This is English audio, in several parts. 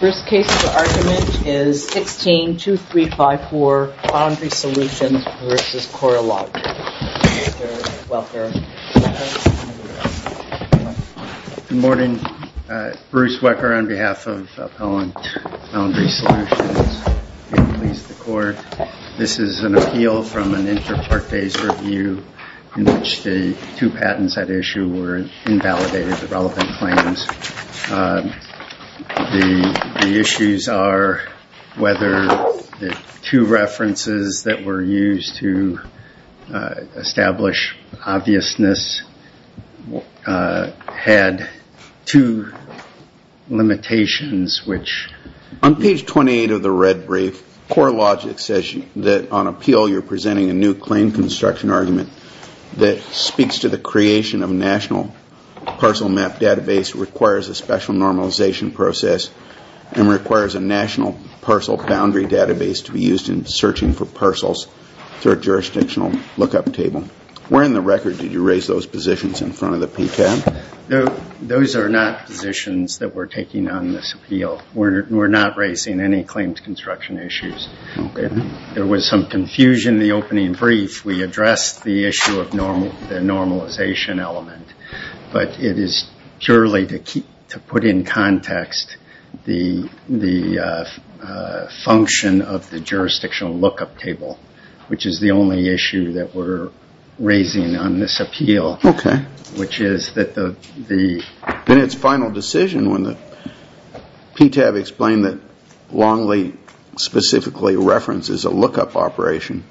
Bruce's case for argument is 16-2354, Boundary Solutions v. Corelogic. Good morning. Bruce Wecker on behalf of Appellant Boundary Solutions, Inc. This is an appeal from an inter-part phase review in which the two patents at issue were invalidated, the relevant claims. The issues are whether the two references that were used to establish obviousness had two limitations which... On page 28 of the red brief, Corelogic says that on appeal you're presenting a new claim construction argument that speaks to the creation of a national parcel map database required by the U.S. Government, requires a special normalization process, and requires a national parcel boundary database to be used in searching for parcels through a jurisdictional look-up table. Where in the record did you raise those positions in front of the PTAB? Those are not positions that we're taking on this appeal. We're not raising any claims construction issues. There was some confusion in the opening brief. We addressed the issue of the normalization element. But it is purely to put in context the function of the jurisdictional look-up table, which is the only issue that we're raising on this appeal, which is that the... In its final decision, when the PTAB explained that Longley specifically references a look-up operation,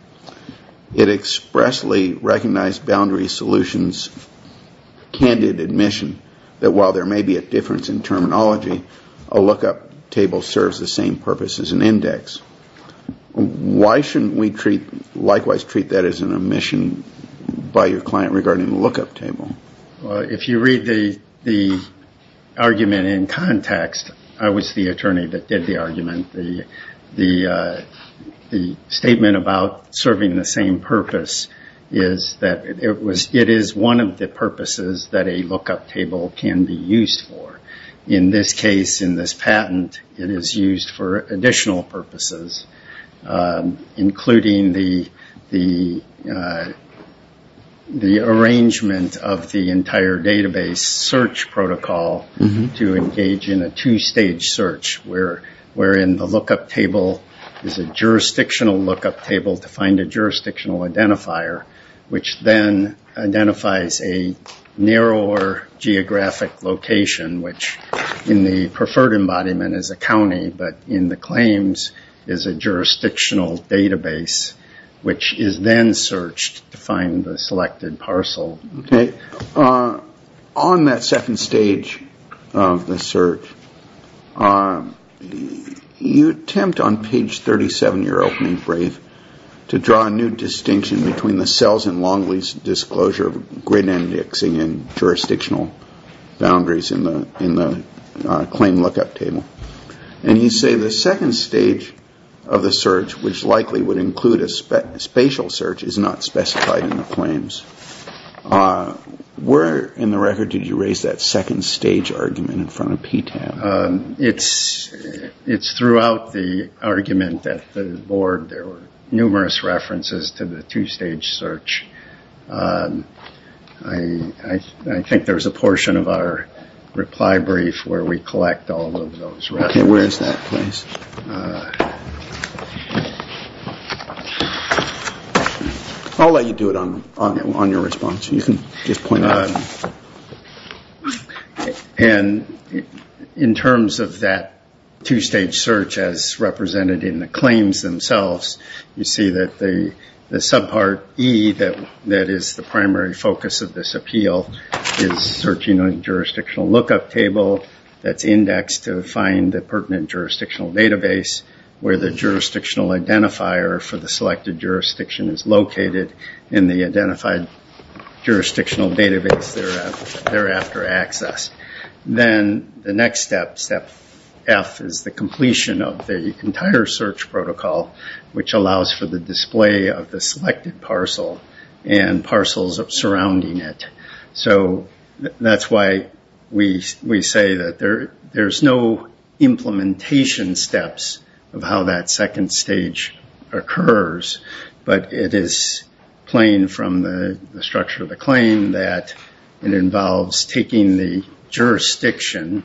it expressly recognized Boundary Solutions' candid admission that while there may be a difference in terminology, a look-up table serves the same purpose as an index. Why shouldn't we likewise treat that as an omission by your client regarding the look-up table? Well, if you read the argument in context, I was the attorney that did the argument. The statement about serving the same purpose is that it is one of the purposes that a look-up table can be used for. In this case, in this patent, it is used for additional purposes, including the arrangement of the entire database search protocol to engage in a two-stage search. Where in the look-up table is a jurisdictional look-up table to find a jurisdictional identifier, which then identifies a narrower geographic location, which in the preferred embodiment is a county, but in the claims is a jurisdictional database, which is then searched to find the selected parcel. On that second stage of the search, you attempt on page 37 of your opening brief to draw a new distinction between the cells in Longley's disclosure of grid indexing and jurisdictional boundaries in the claim look-up table. And you say the second stage of the search, which likely would include a spatial search, is not specified in the claims. Where in the record did you raise that second stage argument in front of PTAB? It's throughout the argument that the board, there were numerous references to the two-stage search. I think there's a portion of our reply brief where we collect all of those references. Okay, where is that, please? I'll let you do it on your response. In terms of that two-stage search as represented in the claims themselves, you see that the subpart E that is the primary focus of this appeal is searching a jurisdictional look-up table that's indexed to find the pertinent jurisdictional database. Where the jurisdictional identifier for the selected jurisdiction is located in the identified jurisdictional database thereafter accessed. Then the next step, step F, is the completion of the entire search protocol, which allows for the display of the selected parcel and parcels surrounding it. So that's why we say that there's no implementation steps in the two-stage search. There's no implementation of how that second stage occurs. But it is plain from the structure of the claim that it involves taking the jurisdiction,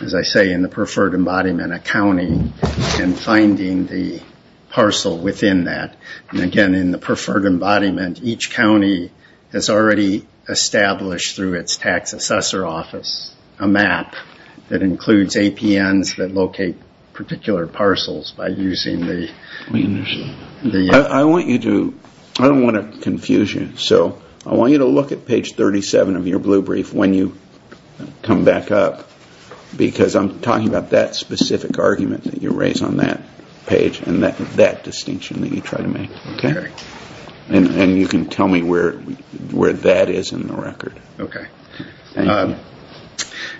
as I say, in the preferred embodiment, a county, and finding the parcel within that. And again, in the preferred embodiment, each county has already established through its tax assessor office a map that includes APNs that locate particular parcels. I don't want to confuse you, so I want you to look at page 37 of your blue brief when you come back up. Because I'm talking about that specific argument that you raise on that page and that distinction that you try to make. And you can tell me where that is in the record.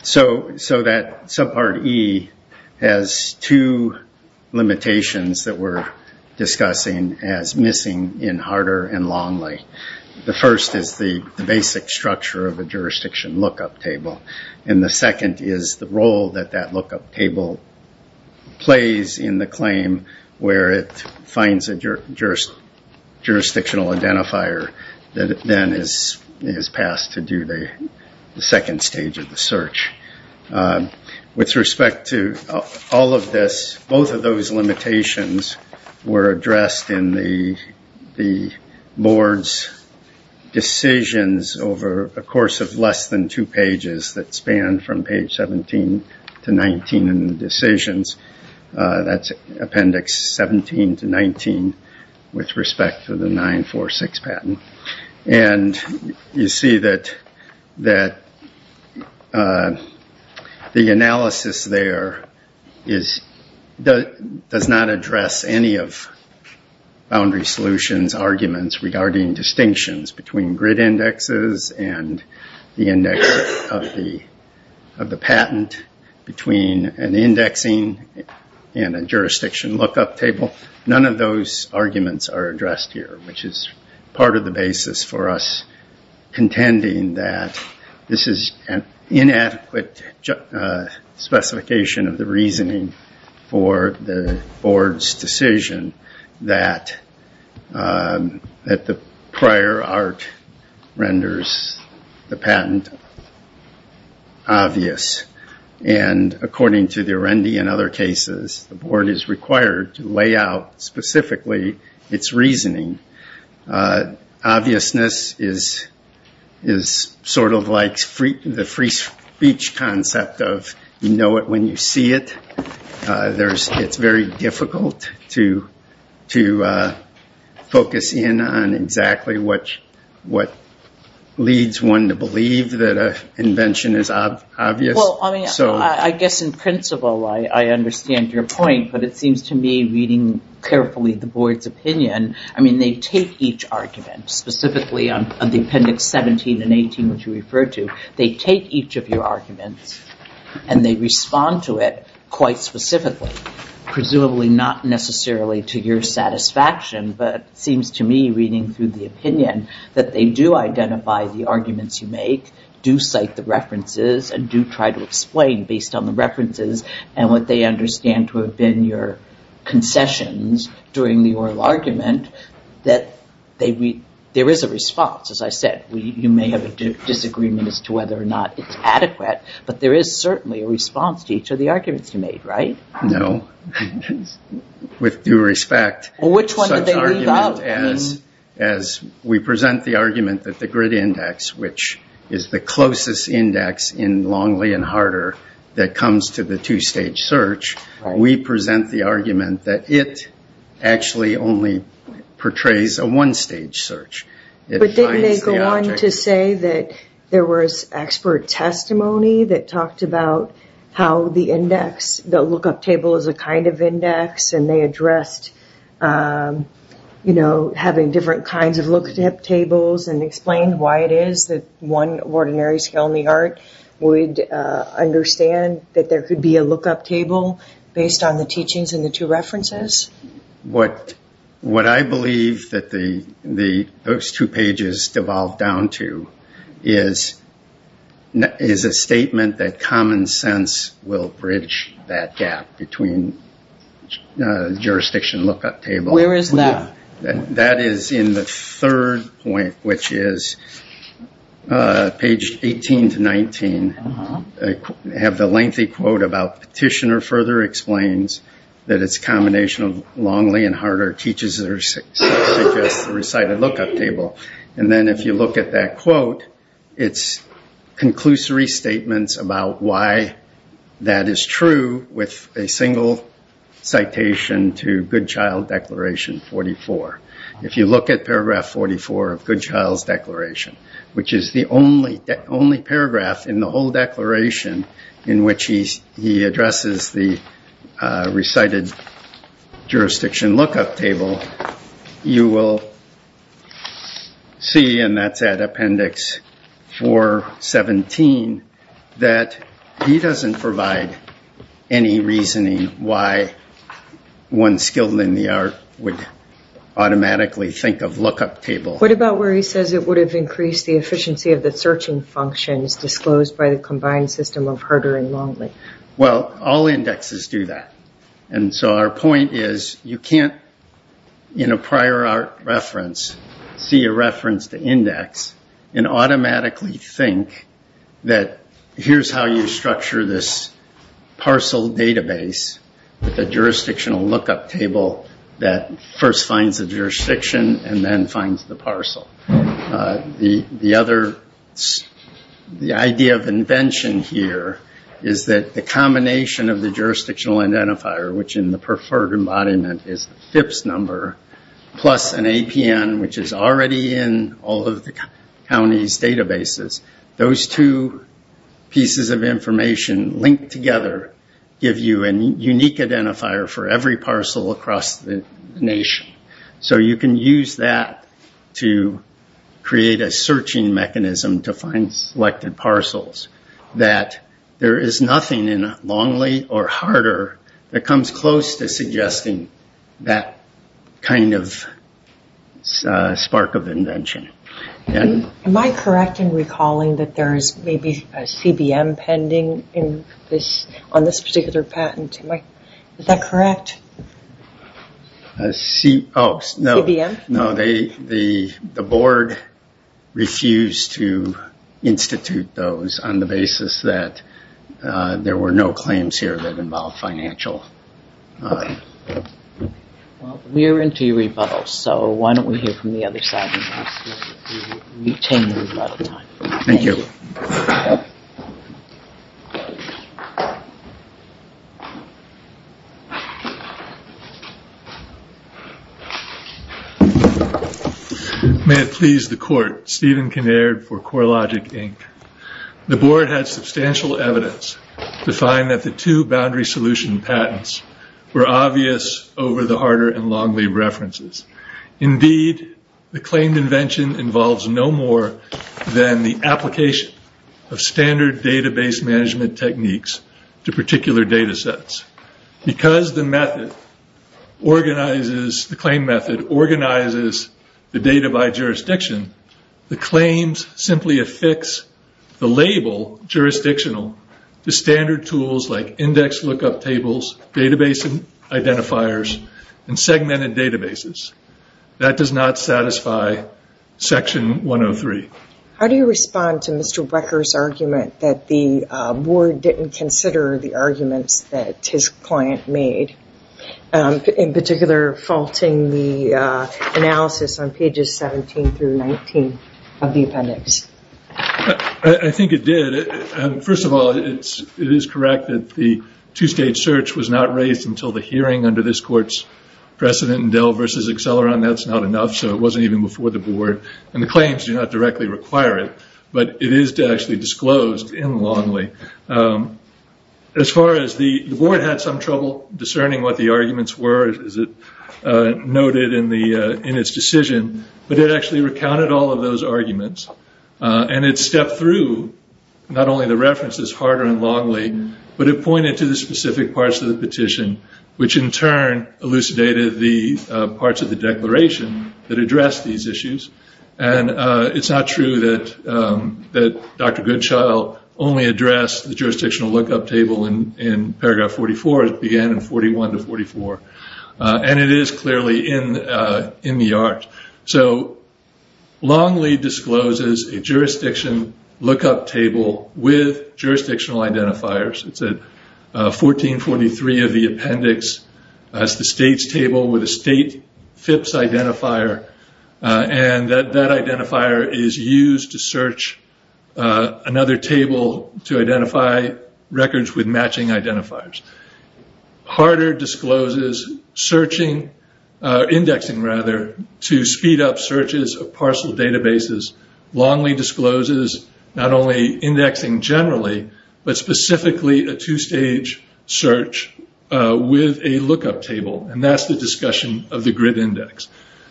So that subpart E has two limitations that we're discussing as missing in Harder and Longley. The first is the basic structure of a jurisdiction lookup table. And the second is the role that that lookup table plays in the claim where it finds a jurisdictional identifier that then is passed to DOJ. The second stage of the search. With respect to all of this, both of those limitations were addressed in the board's decisions over a course of less than two pages that span from page 17 to 19 in the decisions. That's appendix 17 to 19 with respect to the 946 patent. And you see that the analysis there does not address any of Boundary Solutions' arguments regarding distinctions between grid indexes and the index of the patent between an indexing and a jurisdiction lookup table. None of those arguments are addressed here, which is part of the basis for us contending that this is an inadequate specification of the reasoning for the board's decision that the prior art renders the patent obvious. And according to the Rendy and other cases, the board is required to lay out specifically its reasoning. Obviousness is sort of like the free speech concept of you know it when you see it. It's very difficult to focus in on exactly what leads one to believe that an invention is obvious. I guess in principle I understand your point, but it seems to me reading carefully the board's opinion, I mean they take each argument, specifically on the appendix 17 and 18 which you referred to. They take each of your arguments and they respond to it quite specifically. Presumably not necessarily to your satisfaction, but it seems to me reading through the opinion that they do identify the arguments you make, do cite the references, and do try to explain them. Based on the references and what they understand to have been your concessions during the oral argument, that there is a response. As I said, you may have a disagreement as to whether or not it's adequate, but there is certainly a response to each of the arguments you made, right? No. With due respect. Which one did they leave out? As we present the argument that the grid index, which is the closest index in Longley and Harder that comes to the two-stage search, we present the argument that it actually only portrays a one-stage search. But didn't they go on to say that there was expert testimony that talked about how the index, the look-up table is a kind of index, and they addressed the fact that the grid index is a one-stage search? You know, having different kinds of look-up tables and explained why it is that one ordinary skill in the art would understand that there could be a look-up table based on the teachings in the two references? What I believe that those two pages devolve down to is a statement that common sense will bridge that gap between jurisdiction look-up tables and look-up tables. Where is that? That is in the third point, which is page 18 to 19. I have the lengthy quote about Petitioner further explains that it's a combination of Longley and Harder teachers that suggest the recited look-up table. And then if you look at that quote, it's conclusory statements about why that is true with a single citation to good child declaration. If you look at paragraph 44 of good child's declaration, which is the only paragraph in the whole declaration in which he addresses the recited jurisdiction look-up table, you will see, and that's at appendix 417, that he doesn't provide any reasoning why one skill in the art would understand that there could be a look-up table. He says it would have increased the efficiency of the searching functions disclosed by the combined system of Harder and Longley. Well, all indexes do that. Our point is you can't, in a prior art reference, see a reference to index and automatically think that here's how you structure this parcel database with a jurisdictional look-up table that first finds the jurisdiction and then finds the parcel. The idea of invention here is that the combination of the jurisdictional identifier, which in the preferred embodiment is the FIPS number, plus an APN, which is already in all of the county's databases, those two pieces of information linked together give you a unique identifier for every parcel across the nation. You can use that to create a searching mechanism to find selected parcels. There is nothing in Longley or Harder that comes close to suggesting that kind of spark of invention. Am I correct in recalling that there is maybe a CBM pending on this particular patent? Is that correct? CBM? No, the board refused to institute those on the basis that there were no claims here that involved financial... Well, we're into your rebuttals, so why don't we hear from the other side and retain the rebuttal time. Thank you. May it please the court, Stephen Kinnaird for CoreLogic Inc. The board had substantial evidence to find that the two boundary solution patents were obvious over the Harder and Longley references. Indeed, the claimed invention involves no more than the application of standard database management techniques to particular data sets. Because the claim method organizes the data by jurisdiction, the claims simply affix the label jurisdictional to standard tools like index lookup tables, database identifiers, and segmented databases. That does not satisfy Section 103. How do you respond to Mr. Wecker's argument that the board didn't consider the arguments that his client made? In particular, faulting the analysis on pages 17 through 19 of the appendix. I think it did. First of all, it is correct that the two-stage search was not raised until the hearing under this court's precedent in Dell v. Acceleron. That's not enough, so it wasn't even before the board, and the claims do not directly require it, but it is actually disclosed in Longley. As far as the board had some trouble discerning what the arguments were, as it noted in its decision, but it actually recounted all of those arguments. And it stepped through not only the references Harder and Longley, but it pointed to the specific parts of the petition, which in turn elucidated the parts of the declaration that addressed these issues. It's not true that Dr. Goodchild only addressed the jurisdictional lookup table in paragraph 44. It began in 41 to 44, and it is clearly in the art. Longley discloses a jurisdiction lookup table with jurisdictional identifiers. It's at 1443 of the appendix. It's the state's table with a state FIPS identifier, and that identifier is used to search another table to identify records with matching identifiers. Harder discloses indexing to speed up searches of parcel databases. Longley discloses not only indexing generally, but specifically a two-stage search with a lookup table, and that's the discussion of the grid index.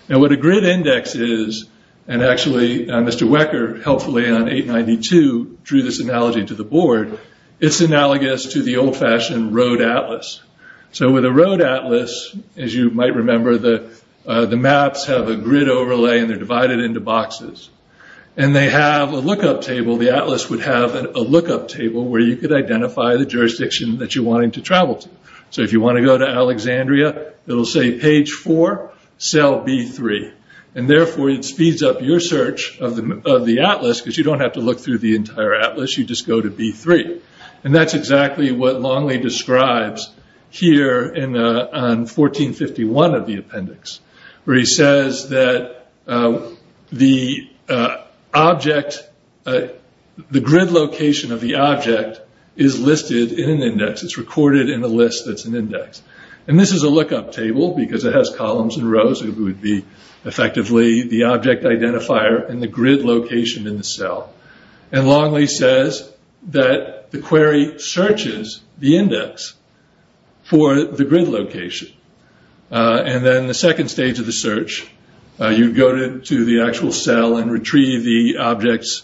Now what a grid index is, and actually Mr. Wecker helpfully on 892 drew this analogy to the board, it's analogous to the old-fashioned road atlas. With a road atlas, as you might remember, the maps have a grid overlay and they're divided into boxes. They have a lookup table, the atlas would have a lookup table where you could identify the jurisdiction that you're wanting to travel to. If you want to go to Alexandria, it'll say page four, cell B3, and therefore it speeds up your search of the atlas because you don't have to look through the entire atlas, you just go to B3. That's exactly what Longley describes here on 1451 of the appendix, where he says that the grid location of the object is listed in an index, it's recorded in a list that's an index. This is a lookup table because it has columns and rows, it would be effectively the object identifier and the grid location in the cell. Longley says that the query searches the index for the grid location. Then the second stage of the search, you go to the actual cell and retrieve the object's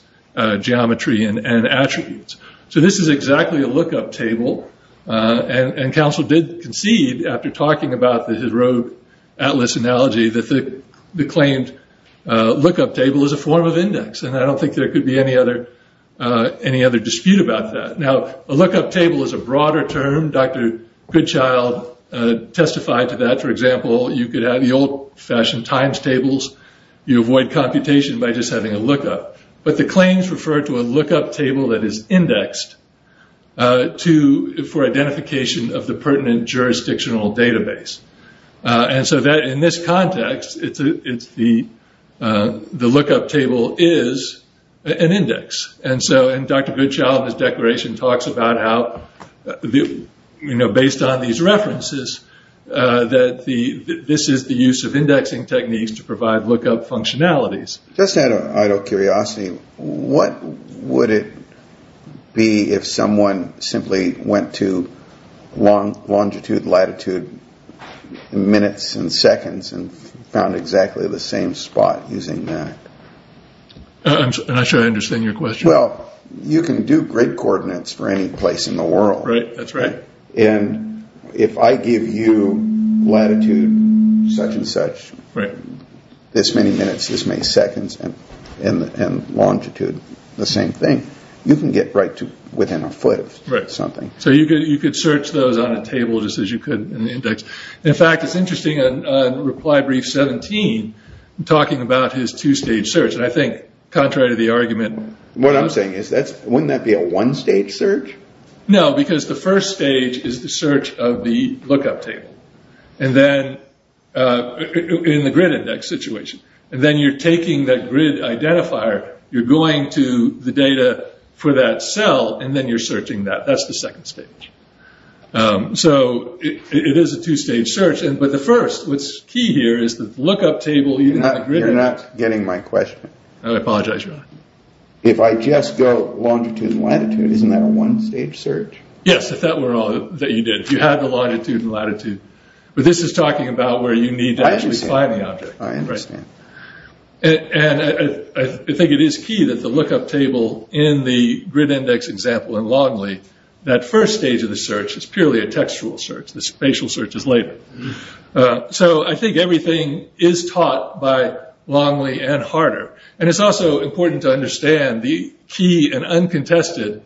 geometry and attributes. This is exactly a lookup table, and Council did concede after talking about the road atlas analogy that the claimed lookup table is a form of index, and I don't think there could be any other dispute about that. A lookup table is a broader term, Dr. Goodchild testified to that, for example, you could have the old-fashioned times tables, you avoid computation by just having a lookup. The claims refer to a lookup table that is indexed for identification of the pertinent jurisdictional database. In this context, the lookup table is an index. Dr. Goodchild, in his declaration, talks about how, based on these references, that this is the use of indexing techniques to provide lookup functionalities. Just out of curiosity, what would it be if someone simply went to longitude, latitude, latitude, minutes, and seconds, and found exactly the same spot using that? I'm not sure I understand your question. Well, you can do grid coordinates for any place in the world. Right, that's right. And if I give you latitude such and such, this many minutes, this many seconds, and longitude, the same thing, you can get right to within a foot of something. So you could search those on a table just as you could in the index. In fact, it's interesting, in reply brief 17, talking about his two-stage search, and I think, contrary to the argument... What I'm saying is, wouldn't that be a one-stage search? No, because the first stage is the search of the lookup table, in the grid index situation. And then you're taking that grid identifier, you're going to the data for that cell, and then you're searching that. That's the second stage. So it is a two-stage search. But the first, what's key here, is the lookup table... You're not getting my question. I apologize, Your Honor. If I just go longitude and latitude, isn't that a one-stage search? Yes, if that were all that you did, if you had the longitude and latitude. But this is talking about where you need to actually find the object. I understand. And I think it is key that the lookup table in the grid index example in Longley, that first stage of the search is purely a textual search. The spatial search is later. So I think everything is taught by Longley and Harder. And it's also important to understand the key and uncontested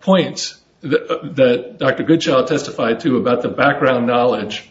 points that Dr. Goodchild testified to about the background knowledge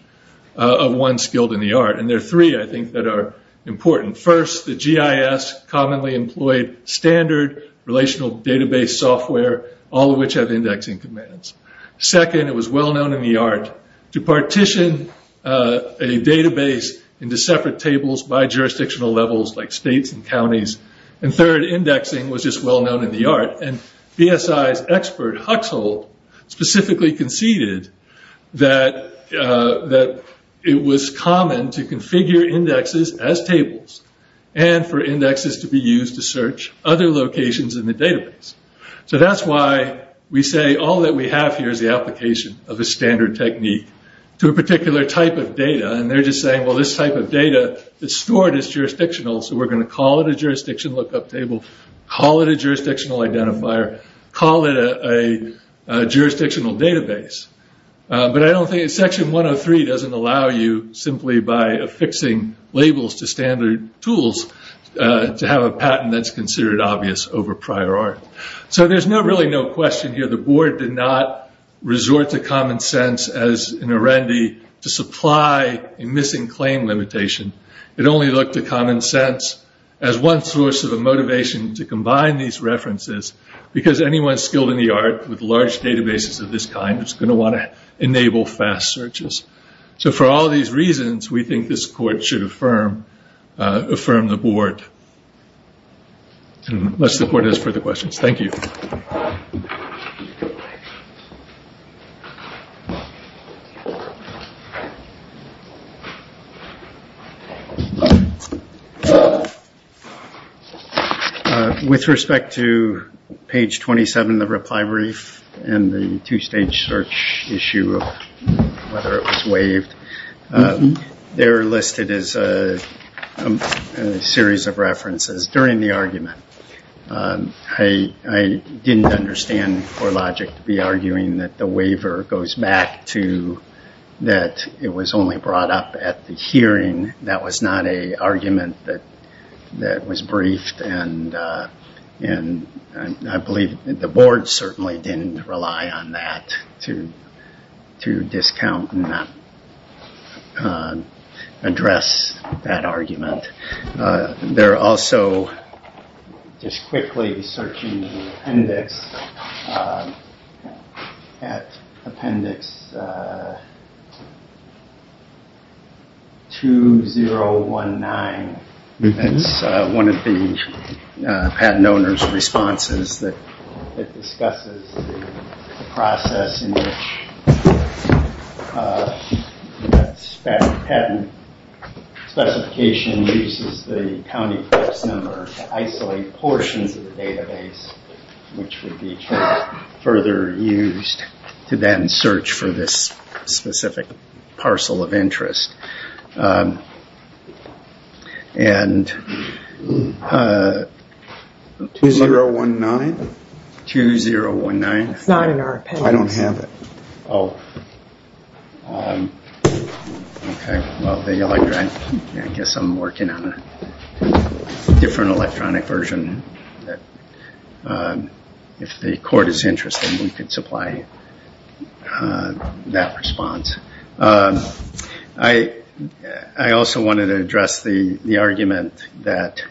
of one skilled in the art. And there are three, I think, that are important. First, the GIS commonly employed standard relational database software, all of which have indexing commands. Second, it was well-known in the art to partition a database into separate tables by jurisdictional levels, like states and counties. And third, indexing was just well-known in the art. And BSI's expert, Huxholt, specifically conceded that it was common to configure indexes as tables and for indexes to be used to search other locations in the database. So that's why we say all that we have here is the application of a standard technique to a particular type of data. And they're just saying, well, this type of data is stored as jurisdictional, so we're going to call it a jurisdiction lookup table, call it a jurisdictional identifier, call it a jurisdictional database. But I don't think that Section 103 doesn't allow you, simply by affixing labels to standard tools, to have a patent that's considered obvious over prior art. So there's really no question here. The board did not resort to common sense as in Arendi to supply a missing claim limitation. It only looked to common sense as one source of a motivation to combine these references, because anyone skilled in the art with large databases of this kind is going to want to enable fast searches. So for all these reasons, we think this court should affirm the board. Unless the board has further questions. Thank you. With respect to page 27 of the reply brief and the two-stage search issue of whether it was waived, they're listed as a series of references. During the argument, I didn't understand CoreLogic to be arguing that the waiver goes back to that it was only brought up at the hearing. That was not an argument that was briefed. I believe the board certainly didn't rely on that to discount and not address that argument. They're also just quickly searching the appendix at appendix 2019. That's one of the patent owner's responses that discusses the process in which that patent specification uses the county press number to isolate portions of the database, which would be further used to then search for this specific parcel of interest. 2019? 2019. It's not in our appendix. I don't have it. Oh. Okay. Well, I guess I'm working on a different electronic version. If the court is interested, we could supply that response. I also wanted to address the argument that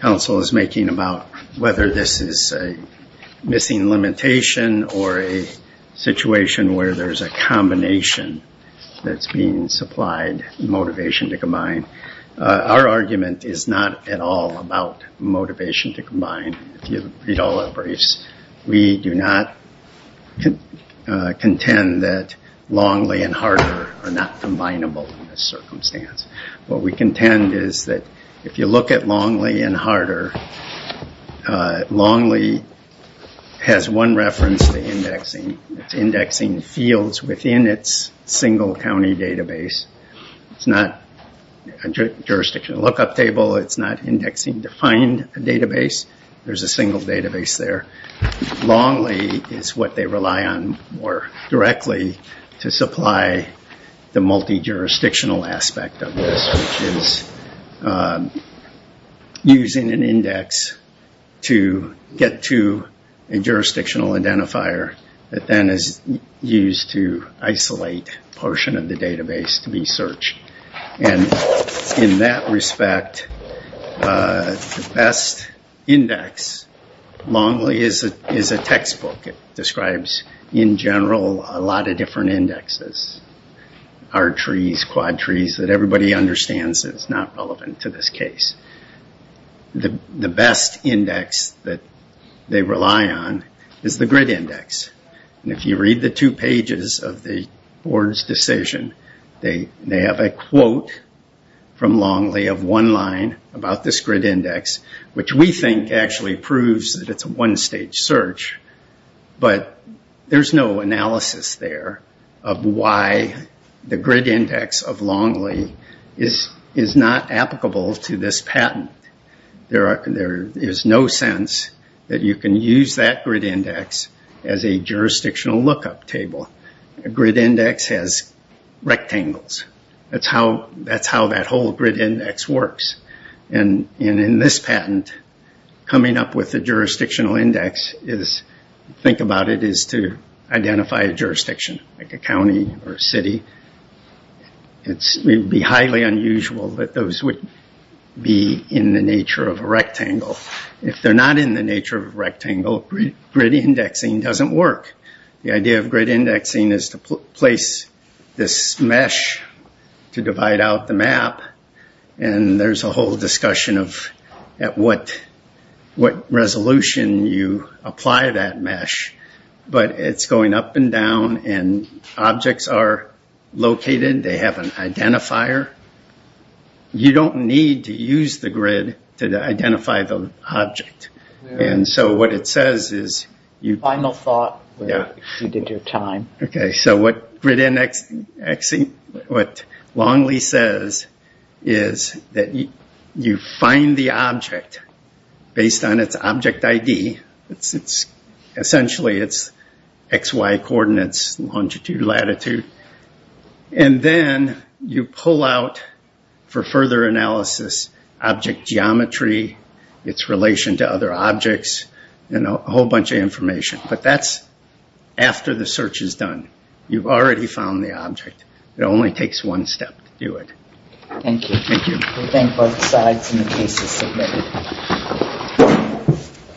counsel is making about whether this is a missing limitation or a situation where there's a combination that's being supplied, motivation to combine. Our argument is not at all about motivation to combine, if you read all our briefs. We do not contend that Longley and Harder are not combinable in this circumstance. What we contend is that if you look at Longley and Harder, Longley has one reference to indexing. It's indexing fields within its single county database. It's not a jurisdiction lookup table. It's not indexing defined database. There's a single database there. Longley is what they rely on more directly to supply the multi-jurisdictional aspect of this, which is using an index to get to a jurisdictional identifier that then is used to isolate a portion of the database to be searched. In that respect, the best index, Longley is a textbook. It describes, in general, a lot of different indexes. R-trees, quad-trees, that everybody understands is not relevant to this case. The best index that they rely on is the grid index. If you read the two pages of the board's decision, they have a quote from Longley of one line about this grid index, which we think actually proves that it's a one-stage search, but there's no analysis there of why the grid index of Longley is not applicable to this patent. There is no sense that you can use that grid index as a jurisdictional lookup table. A grid index has rectangles. That's how that whole grid index works. In this patent, coming up with a jurisdictional index, think about it as to identify a jurisdiction, like a county or a city. It would be highly unusual that those would be in the nature of a rectangle. If they're not in the nature of a rectangle, grid indexing doesn't work. The idea of grid indexing is to place this mesh to divide out the map, and there's a whole discussion of at what resolution you apply that mesh. It's going up and down, and objects are located. They have an identifier. You don't need to use the grid to identify the object. What it says is you find the object based on its object ID. Essentially, it's XY coordinates, longitude, latitude. Then you pull out, for further analysis, object geometry, its relation to other objects, and a whole bunch of information. But that's after the search is done. You've already found the object. It only takes one step to do it. Thank you. We thank both sides, and the case is submitted.